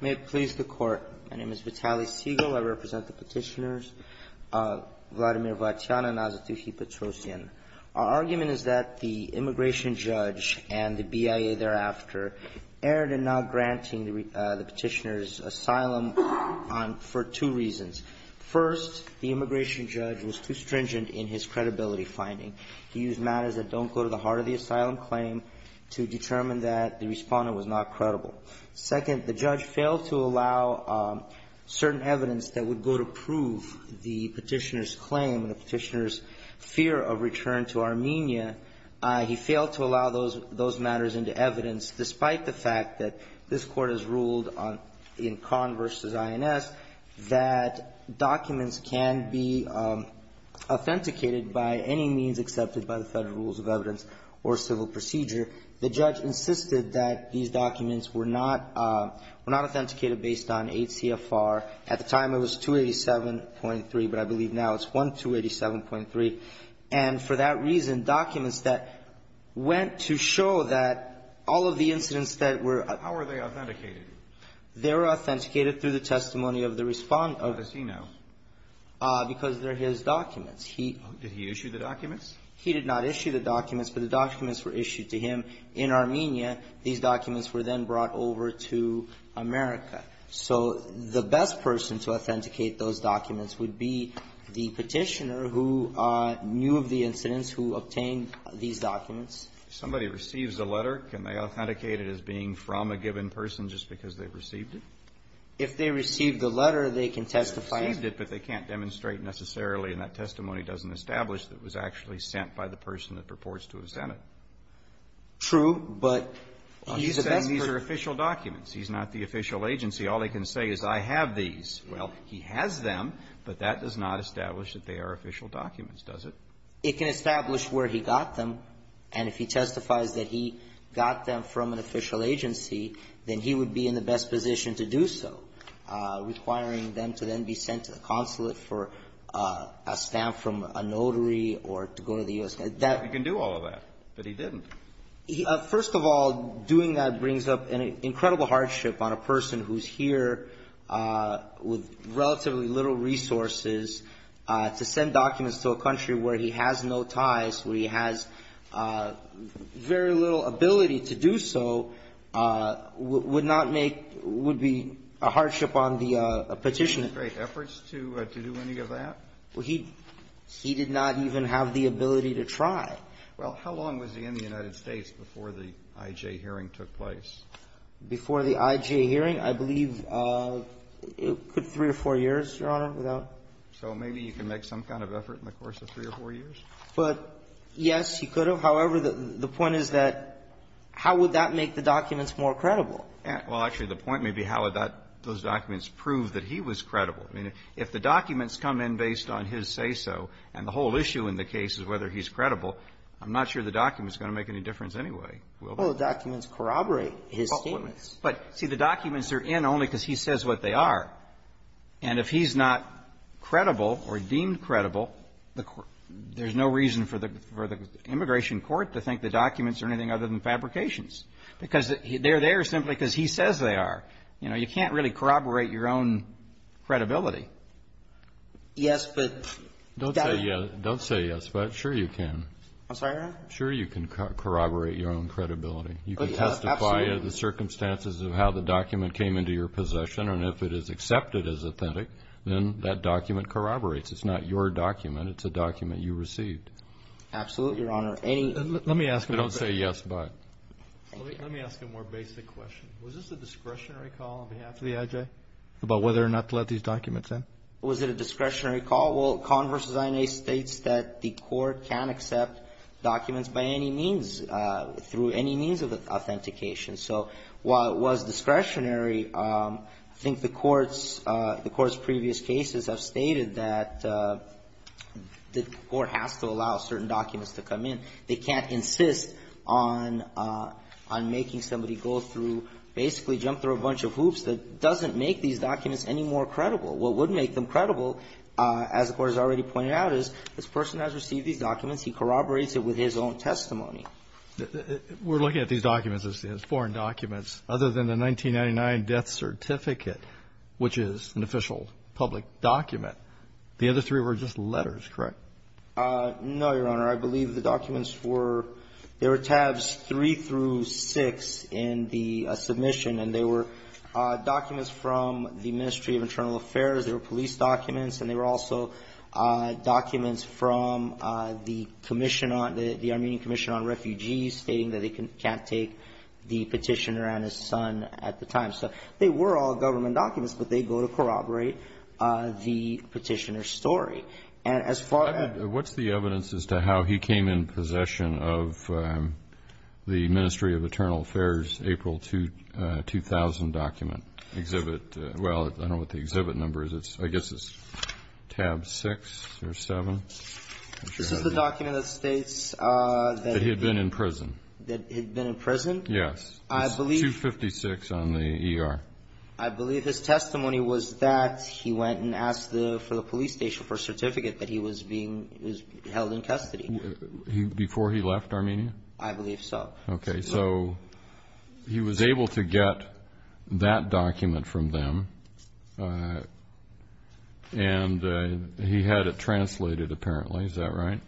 May it please the Court. My name is Vitaly Segal. I represent the petitioners, Vladimir VATYAN and Azatuhi Petrosyan. Our argument is that the immigration judge and the BIA thereafter erred in not granting the petitioners asylum for two reasons. First, the immigration judge was too stringent in his credibility finding. He used matters that don't go to the heart of the asylum claim to determine that the respondent was not credible. Second, the judge failed to allow certain evidence that would go to prove the petitioner's claim and the petitioner's fear of return to Armenia. He failed to allow those matters into evidence, despite the fact that this Court has ruled in Conn v. INS that documents can be authenticated by any means accepted by the Federal Rules of Evidence or civil procedure. The judge insisted that these documents were not authenticated based on 8 CFR. At the time, it was 287.3, but I believe now it's 1287.3. And for that reason, documents that went to show that all of the incidents that were How were they authenticated? They were authenticated through the testimony of the respondent. How does he know? Because they're his documents. He Did he issue the documents? He did not issue the documents, but the documents were issued to him in Armenia. These documents were then brought over to America. So the best person to authenticate those documents would be the petitioner who knew of the incidents, who obtained these documents. If somebody receives a letter, can they authenticate it as being from a given person just because they received it? If they received the letter, they can testify. They received it, but they can't demonstrate necessarily, and that testimony doesn't establish that it was actually sent by the person that purports to have sent it. True, but he's the best person. But these are official documents. He's not the official agency. All they can say is, I have these. Well, he has them, but that does not establish that they are official documents, does it? It can establish where he got them, and if he testifies that he got them from an official agency, then he would be in the best position to do so, requiring them to then be sent to the consulate for a stamp from a notary or to go to the U.S. That He can do all of that, but he didn't. First of all, doing that brings up an incredible hardship on a person who's here with relatively little resources to send documents to a country where he has no ties, where he has very little ability to do so, would not make – would be a hardship on the Petitioner. Did he make great efforts to do any of that? Well, he did not even have the ability to try. Well, how long was he in the United States before the IJ hearing took place? Before the IJ hearing, I believe it could be three or four years, Your Honor, without. So maybe you can make some kind of effort in the course of three or four years? But, yes, he could have. However, the point is that how would that make the documents more credible? Well, actually, the point may be how would that – those documents prove that he was credible. I mean, if the documents come in based on his say-so, and the whole issue in the case is whether he's credible, I'm not sure the documents are going to make any difference anyway. Well, the documents corroborate his statements. But, see, the documents are in only because he says what they are. And if he's not credible or deemed credible, the – there's no reason for the – for the Immigration Court to think the documents are anything other than fabrications. Because they're there simply because he says they are. You know, you can't really corroborate your own credibility. Yes, but – Don't say yes. Don't say yes. But sure you can. I'm sorry, Your Honor? Sure you can corroborate your own credibility. You can testify of the circumstances of how the document came into your possession. And if it is accepted as authentic, then that document corroborates. It's not your document. It's a document you received. Absolutely, Your Honor. Any – Let me ask – Don't say yes, but. Let me ask a more basic question. Was this a discretionary call on behalf of the IJ about whether or not to let these documents in? Was it a discretionary call? Well, Conn v. INA states that the court can accept documents by any means, through any means of authentication. So while it was discretionary, I think the court's – the court's previous cases have stated that the court has to allow certain documents to come in. They can't insist on – on making somebody go through – basically jump through a bunch of hoops that doesn't make these documents any more credible. What would make them credible, as the court has already pointed out, is this person has received these documents. He corroborates it with his own testimony. We're looking at these documents as foreign documents, other than the 1999 death certificate, which is an official public document. The other three were just letters, correct? No, Your Honor. I believe the documents were – there were tabs three through six in the submission, and they were documents from the Ministry of Internal Affairs. They were police documents, and they were also documents from the commission on – the Armenian Commission on Refugees stating that they can't take the petitioner and his son at the time. So they were all government documents, but they go to corroborate the petitioner's story. And as far as – What's the evidence as to how he came in possession of the Ministry of Internal Affairs April 2000 document exhibit – well, I don't know what the exhibit number is. It's – I guess it's tab six or seven. This is the document that states that he had been in prison. That he had been in prison? Yes. It's 256 on the ER. I believe his testimony was that he went and asked for the police station for a certificate that he was being – he was held in custody. Before he left Armenia? I believe so. Okay, so he was able to get that document from them, and he had it translated, apparently. Is that right?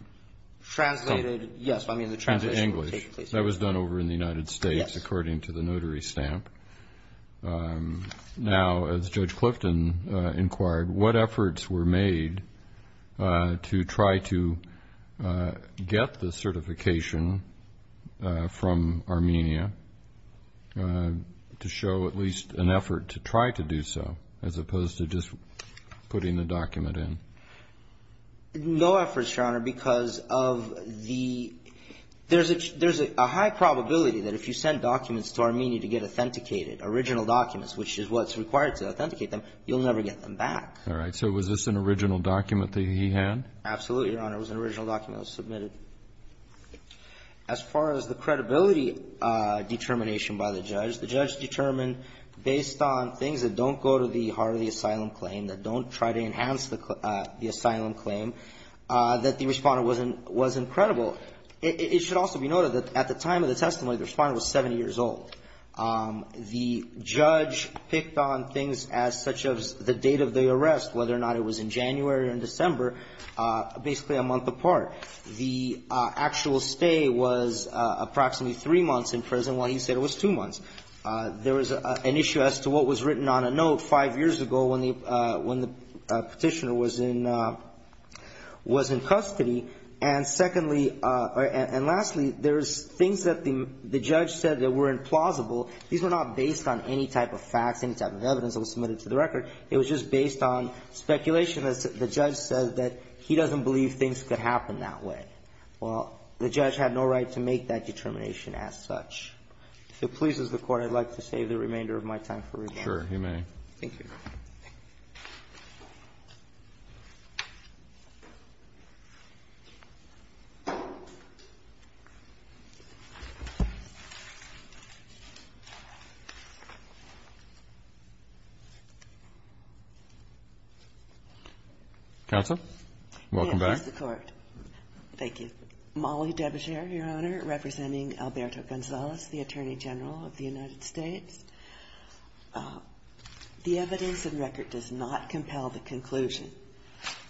Translated – yes, I mean the translation – Translated in English. That was done over in the United States, according to the notary stamp. Now, as Judge Clifton inquired, what efforts were made to try to get the certification from Armenia to show at least an effort to try to do so, as opposed to just putting the document in? No efforts, Your Honor, because of the – there's a high probability that if you send documents to Armenia to get authenticated, original documents, which is what's required to authenticate them, you'll never get them back. All right. So was this an original document that he had? Absolutely, Your Honor. It was an original document that was submitted. As far as the credibility determination by the judge, the judge determined based on things that don't go to the heart of the asylum claim, that don't try to enhance the asylum claim, that the Respondent wasn't credible. It should also be noted that at the time of the testimony, the Respondent was 70 years old. The judge picked on things as such as the date of the arrest, whether or not it was in January or in December, basically a month apart. The actual stay was approximately three months in prison, while he said it was two months. There was an issue as to what was written on a note five years ago when the Petitioner was in custody. And lastly, there's things that the judge said that were implausible. These were not based on any type of facts, any type of evidence that was submitted to the record. It was just based on speculation that the judge said that he doesn't believe things could happen that way. Well, the judge had no right to make that determination as such. If it pleases the Court, I'd like to save the remainder of my time for rebuttal. Sure, you may. Thank you. Counsel? Welcome back. Yes, Mr. Court. Thank you. Mollie Debecher, Your Honor, representing Alberto Gonzalez, the Attorney General of the United States. The evidence and record does not compel the conclusion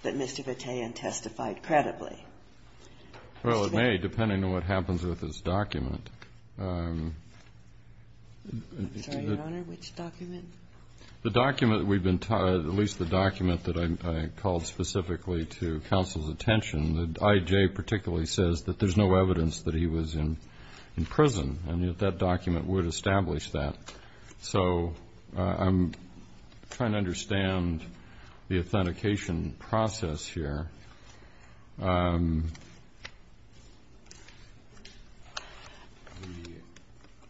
that Mr. Vitaean testified credibly. Well, it may, depending on what happens with his document. I'm sorry, Your Honor, which document? The document we've been talking about, at least the document that I called specifically to counsel's attention. The I.J. particularly says that there's no evidence that he was in prison, and that document would establish that. So I'm trying to understand the authentication process here.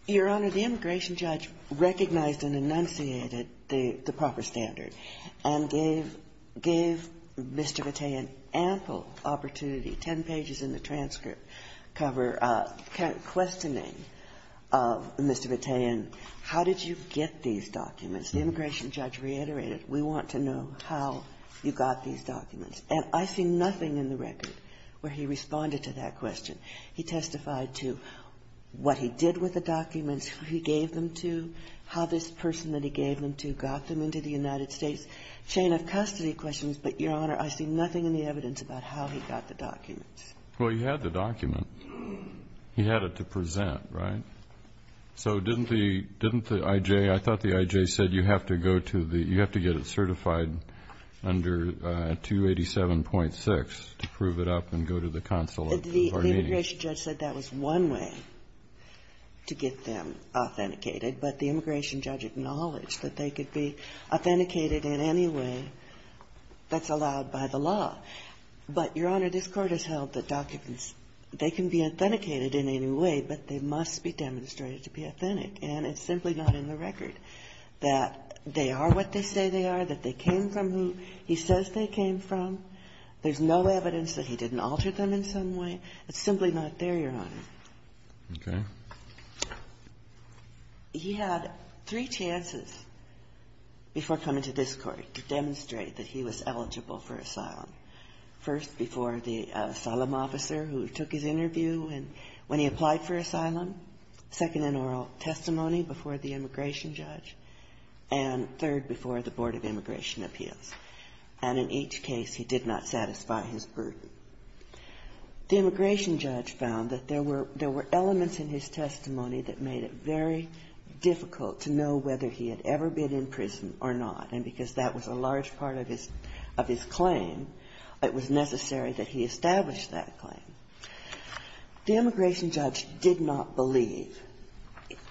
Your Honor, the immigration judge recognized and enunciated the proper standard and gave Mr. Vitaean ample opportunity, 10 pages in the transcript, questioning Mr. Vitaean, how did you get these documents? The immigration judge reiterated, we want to know how you got these documents. And I see nothing in the record where he responded to that question. He testified to what he did with the documents, who he gave them to, how this person that he gave them to got them into the United States. Chain of custody questions, but, Your Honor, I see nothing in the evidence about how he got the documents. Well, he had the document. He had it to present, right? So didn't the IJ – I thought the IJ said you have to go to the – you have to get it certified under 287.6 to prove it up and go to the consul of our meeting. The immigration judge said that was one way to get them authenticated, but the immigration judge acknowledged that they could be authenticated in any way that's allowed by the law. But, Your Honor, this Court has held that documents, they can be authenticated in any way, but they must be demonstrated to be authentic. And it's simply not in the record that they are what they say they are, that they came from who he says they came from. There's no evidence that he didn't alter them in some way. It's simply not there, Your Honor. Okay. He had three chances before coming to this Court to demonstrate that he was eligible for asylum. First, before the asylum officer who took his interview when he applied for asylum. Second, an oral testimony before the immigration judge. And third, before the Board of Immigration Appeals. And in each case, he did not satisfy his burden. The immigration judge found that there were elements in his testimony that made it very difficult to know whether he had ever been in prison or not. And because that was a large part of his claim, it was necessary that he establish that claim. The immigration judge did not believe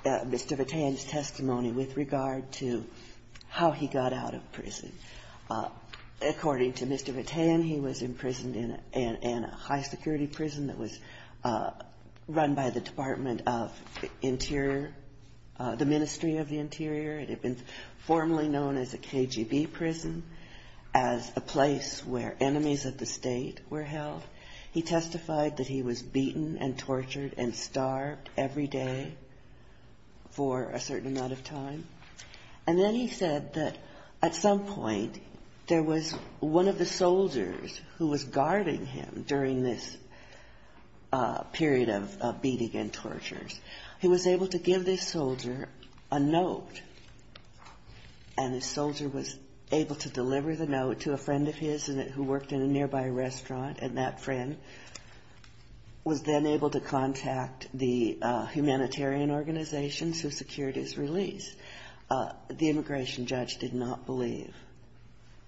Mr. Vitaean's testimony with regard to how he got out of prison. According to Mr. Vitaean, he was imprisoned in a high-security prison that was run by the military. It had been formerly known as a KGB prison, as a place where enemies of the state were held. He testified that he was beaten and tortured and starved every day for a certain amount of time. And then he said that at some point, there was one of the soldiers who was guarding him during this period of beating and tortures. He was able to give this soldier a note, and the soldier was able to deliver the note to a friend of his who worked in a nearby restaurant, and that friend was then able to contact the humanitarian organizations who secured his release. The immigration judge did not believe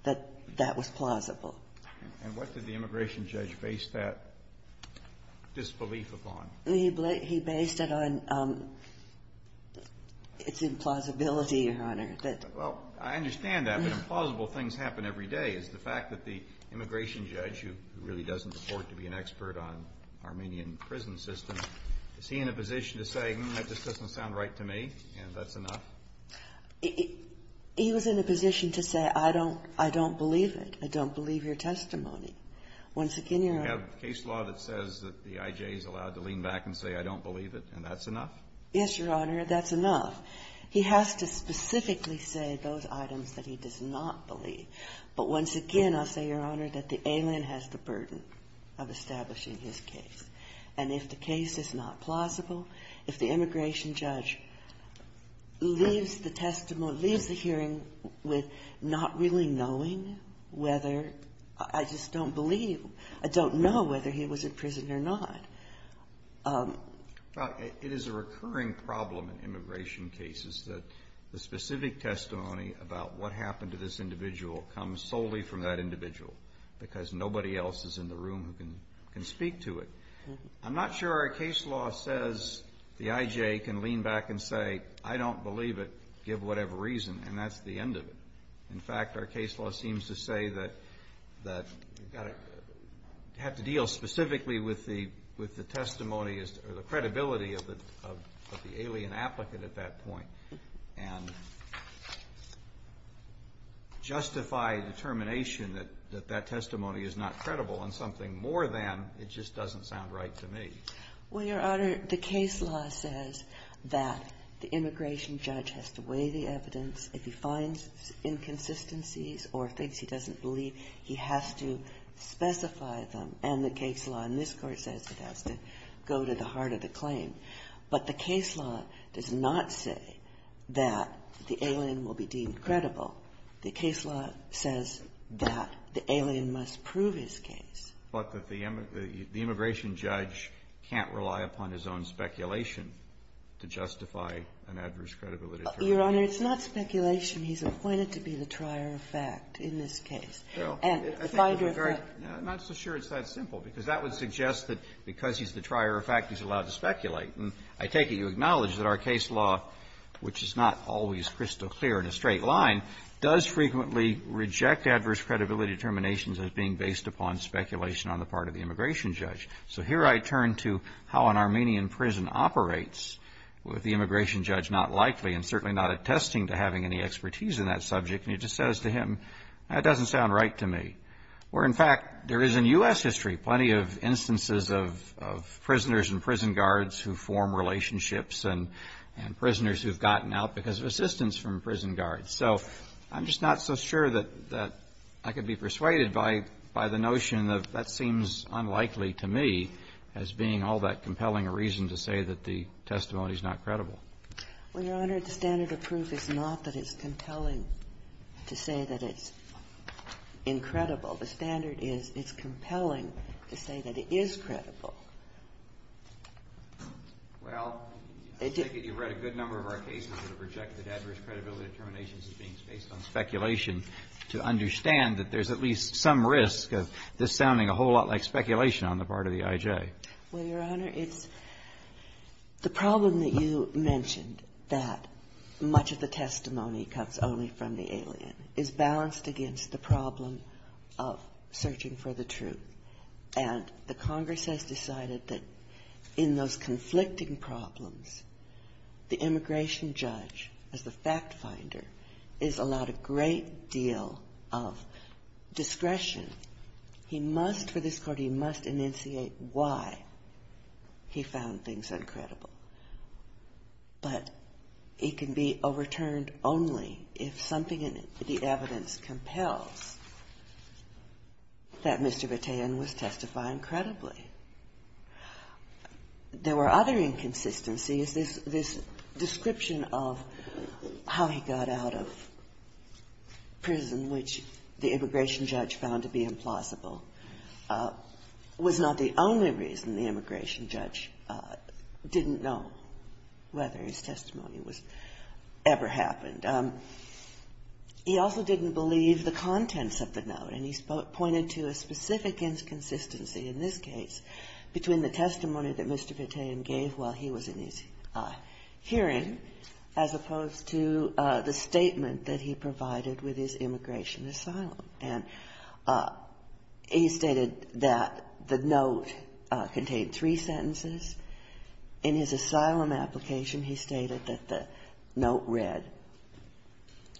that that was plausible. And what did the immigration judge base that disbelief upon? He based it on its implausibility, Your Honor. Well, I understand that, but implausible things happen every day. Is the fact that the immigration judge, who really doesn't afford to be an expert on Armenian prison systems, is he in a position to say, hmm, that just doesn't sound right to me, and that's enough? He was in a position to say, I don't believe it. I don't believe your testimony. Once again, Your Honor ---- You have case law that says that the I.J. is allowed to lean back and say, I don't believe it, and that's enough? Yes, Your Honor. That's enough. He has to specifically say those items that he does not believe. But once again, I'll say, Your Honor, that the alien has the burden of establishing his case. And if the case is not plausible, if the immigration judge leaves the testimony or leaves the hearing with not really knowing whether ---- I just don't believe ---- I don't know whether he was a prisoner or not. Well, it is a recurring problem in immigration cases that the specific testimony about what happened to this individual comes solely from that individual, because nobody else is in the room who can speak to it. I'm not sure our case law says the I.J. can lean back and say, I don't believe it, give whatever reason, and that's the end of it. In fact, our case law seems to say that you have to deal specifically with the testimony or the credibility of the alien applicant at that point, and justify determination that that testimony is not credible on something more than it just doesn't sound right to me. Well, Your Honor, the case law says that the immigration judge has to weigh the evidence. If he finds inconsistencies or things he doesn't believe, he has to specify them. And the case law in this Court says it has to go to the heart of the claim. But the case law does not say that the alien will be deemed credible. The case law says that the alien must prove his case. But that the immigration judge can't rely upon his own speculation to justify an adverse credibility determination. Your Honor, it's not speculation. He's appointed to be the trier of fact in this case. And if I could revert to the question, I'm not so sure it's that simple, because that would suggest that because he's the trier of fact, he's allowed to speculate. And I take it you acknowledge that our case law, which is not always crystal clear in a straight line, does frequently reject adverse credibility determinations as being based upon speculation on the part of the immigration judge. So here I turn to how an Armenian prison operates with the immigration judge not likely and certainly not attesting to having any expertise in that subject. And he just says to him, that doesn't sound right to me. Where in fact, there is in US history plenty of instances of prisoners and prison guards who form relationships and prisoners who've gotten out because of assistance from prison guards. So I'm just not so sure that I can be persuaded by the notion of that seems unlikely to me as being all that compelling a reason to say that the testimony is not credible. Well, Your Honor, the standard of proof is not that it's compelling to say that it's incredible. The standard is it's compelling to say that it is credible. Well, I take it you've read a good number of our cases that have rejected adverse credibility determinations as being based on speculation to understand that there's at least some risk of this sounding a whole lot like speculation on the part of the IJ. Well, Your Honor, it's the problem that you mentioned, that much of the testimony comes only from the alien, is balanced against the problem of searching for the truth. And the Congress has decided that in those conflicting problems, the immigration judge, as the fact finder, is allowed a great deal of discretion. He must, for this Court, he must enunciate why he found things uncredible. But it can be overturned only if something in the evidence compels that Mr. Vitaean was testifying credibly. There were other inconsistencies. This description of how he got out of prison, which the immigration judge found to be implausible, was not the only reason the immigration judge didn't know whether his testimony was ever happened. He also didn't believe the contents of the note, and he's pointed to a specific inconsistency in this case between the testimony that Mr. Vitaean gave while he was in his hearing as opposed to the statement that he provided with his immigration asylum. And he stated that the note contained three sentences. In his asylum application, he stated that the note read,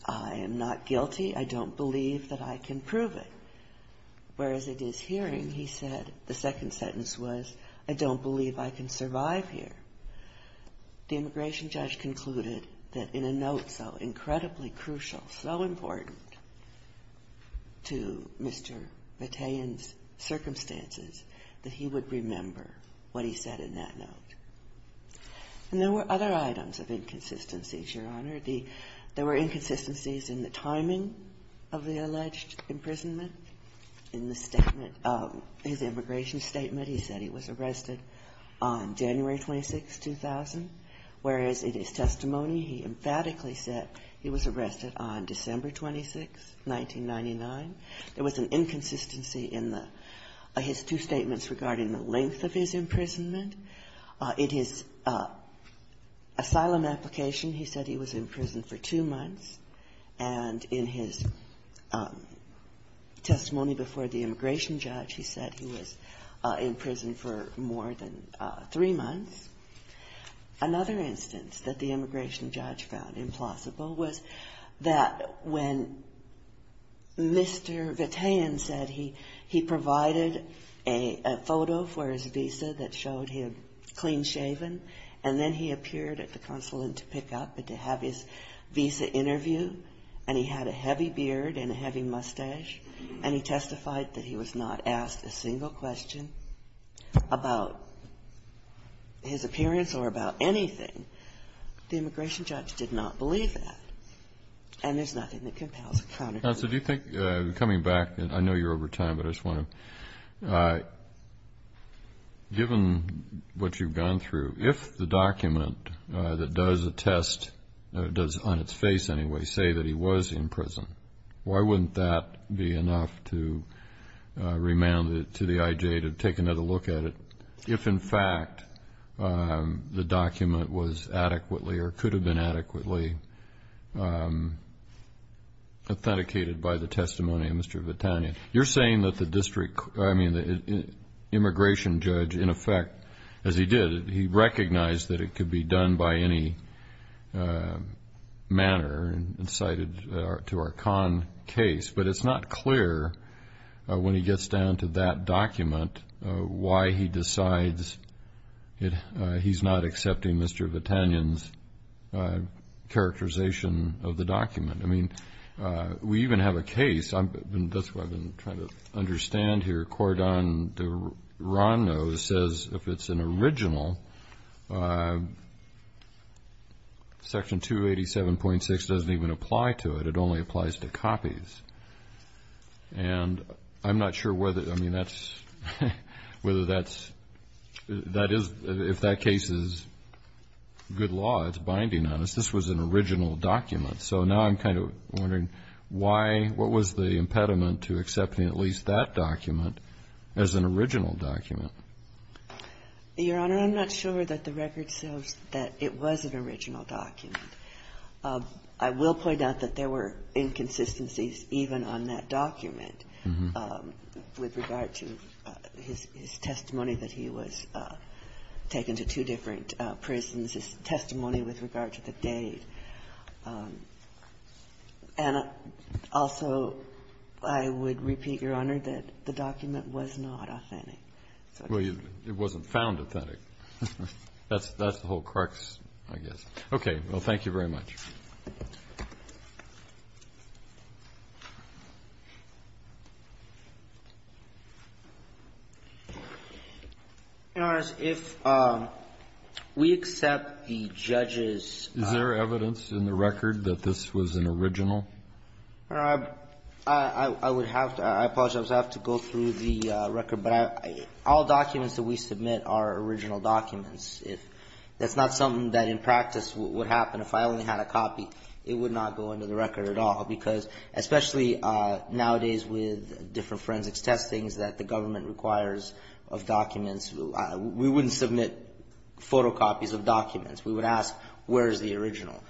I am not guilty. I don't believe that I can prove it. Whereas, in his hearing, he said the second sentence was, I don't believe I can survive here. The immigration judge concluded that in a note so incredibly crucial, so important to Mr. Vitaean's circumstances, that he would remember what he said in that note. And there were other items of inconsistencies, Your Honor. There were inconsistencies in the timing of the alleged imprisonment in the statement of his immigration statement. He said he was arrested on January 26, 2000, whereas in his testimony, he emphatically said he was arrested on December 26, 1999. There was an inconsistency in the his two statements regarding the length of his imprisonment. In his asylum application, he said he was in prison for two months. And in his testimony before the immigration judge, he said he was in prison for more than three months. Another instance that the immigration judge found implausible was that when Mr. Vitaean said he provided a photo for his visa that showed him clean-shaven, and then he appeared at the consulate to pick up and to have his visa interview, and he had a heavy beard and a heavy mustache, and he testified that he was not asked a single question about his appearance or about anything, the immigration judge did not believe that. And there's nothing that compels a counterclaim. Counsel, do you think, coming back, I know you're over time, but I just want to, given what you've gone through, if the document that does attest, does on its face anyway, say that he was in prison, why wouldn't that be enough to remand it to the IJ to take another look at it if, in fact, the document was adequately or could have been adequately authenticated by the testimony of Mr. Vitaean? You're saying that the immigration judge, in effect, as he did, he recognized that it could be done by any manner and cited to our con case, but it's not clear when he gets down to that document why he decides he's not accepting Mr. Vitaean's characterization of the document. I mean, we even have a case, and that's what I've been trying to understand here, Cordon de Rano says if it's an original, Section 287.6 doesn't even apply to it, it only applies to copies. And I'm not sure whether, I mean, that's, whether that's, that is, if that case is good law, it's binding on us, this was an original document. So now I'm kind of wondering why, what was the impediment to accepting at least that document as an original document? Your Honor, I'm not sure that the record shows that it was an original document. I will point out that there were inconsistencies even on that document with regard to his testimony that he was taken to two different prisons, his testimony with regard to the date. And also, I would repeat, Your Honor, that the document was not authentic. Well, it wasn't found authentic. That's the whole crux, I guess. Okay. Well, thank you very much. Your Honor, if we accept the judge's ---- Is there evidence in the record that this was an original? Your Honor, I would have to, I apologize, I would have to go through the record. But all documents that we submit are original documents. If that's not something that in practice would happen if I only had a copy, it would not go into the record at all. Because especially nowadays with different forensics testings that the government requires of documents, we wouldn't submit photocopies of documents. We would ask, where is the original?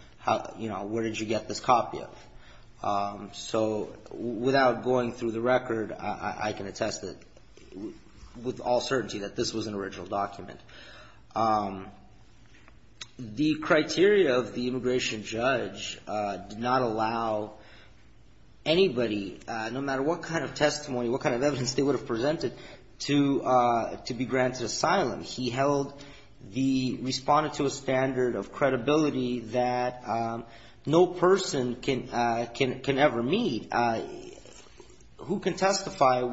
You know, where did you get this copy of? So without going through the record, I can attest that with all certainty that this was an original document. The criteria of the immigration judge did not allow anybody, no matter what kind of testimony, what kind of evidence they would have presented, to be granted asylum. He held the, responded to a standard of credibility that no person can ever meet who can tell you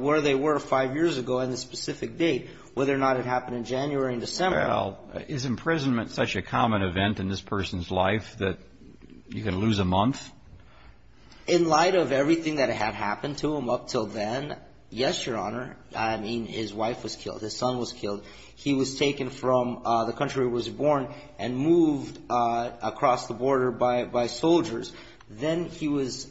what happened in January and December. Well, is imprisonment such a common event in this person's life that you can lose a month? In light of everything that had happened to him up until then, yes, Your Honor. I mean, his wife was killed, his son was killed. He was taken from the country where he was born and moved across the border by soldiers. Then he was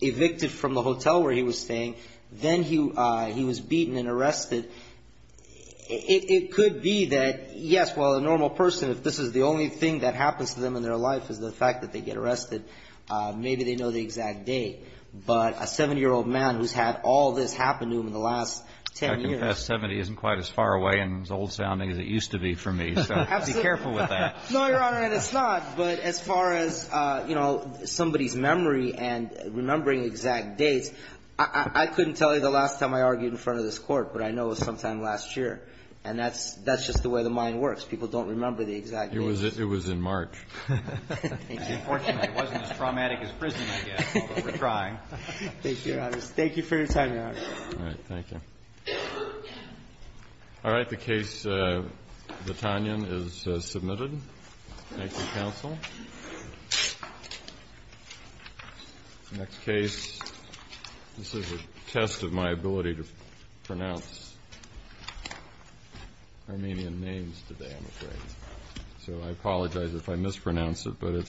evicted from the hotel where he was staying. Then he was beaten and arrested. It could be that, yes, well, a normal person, if this is the only thing that happens to them in their life is the fact that they get arrested, maybe they know the exact date. But a 70-year-old man who's had all this happen to him in the last 10 years. I confess, 70 isn't quite as far away and as old-sounding as it used to be for me. So be careful with that. No, Your Honor, and it's not. But as far as somebody's memory and remembering exact dates, I couldn't tell you the last time I argued in front of this Court, but I know it was sometime last year. And that's just the way the mind works. People don't remember the exact dates. It was in March. Unfortunately, it wasn't as traumatic as prison, I guess, although we're trying. Thank you, Your Honor. Thank you for your time, Your Honor. All right, thank you. All right, the case, the Tanyan, is submitted. Thank you, counsel. Next case, this is a test of my ability to pronounce Armenian names today, I'm afraid. So I apologize if I mispronounce it, but it's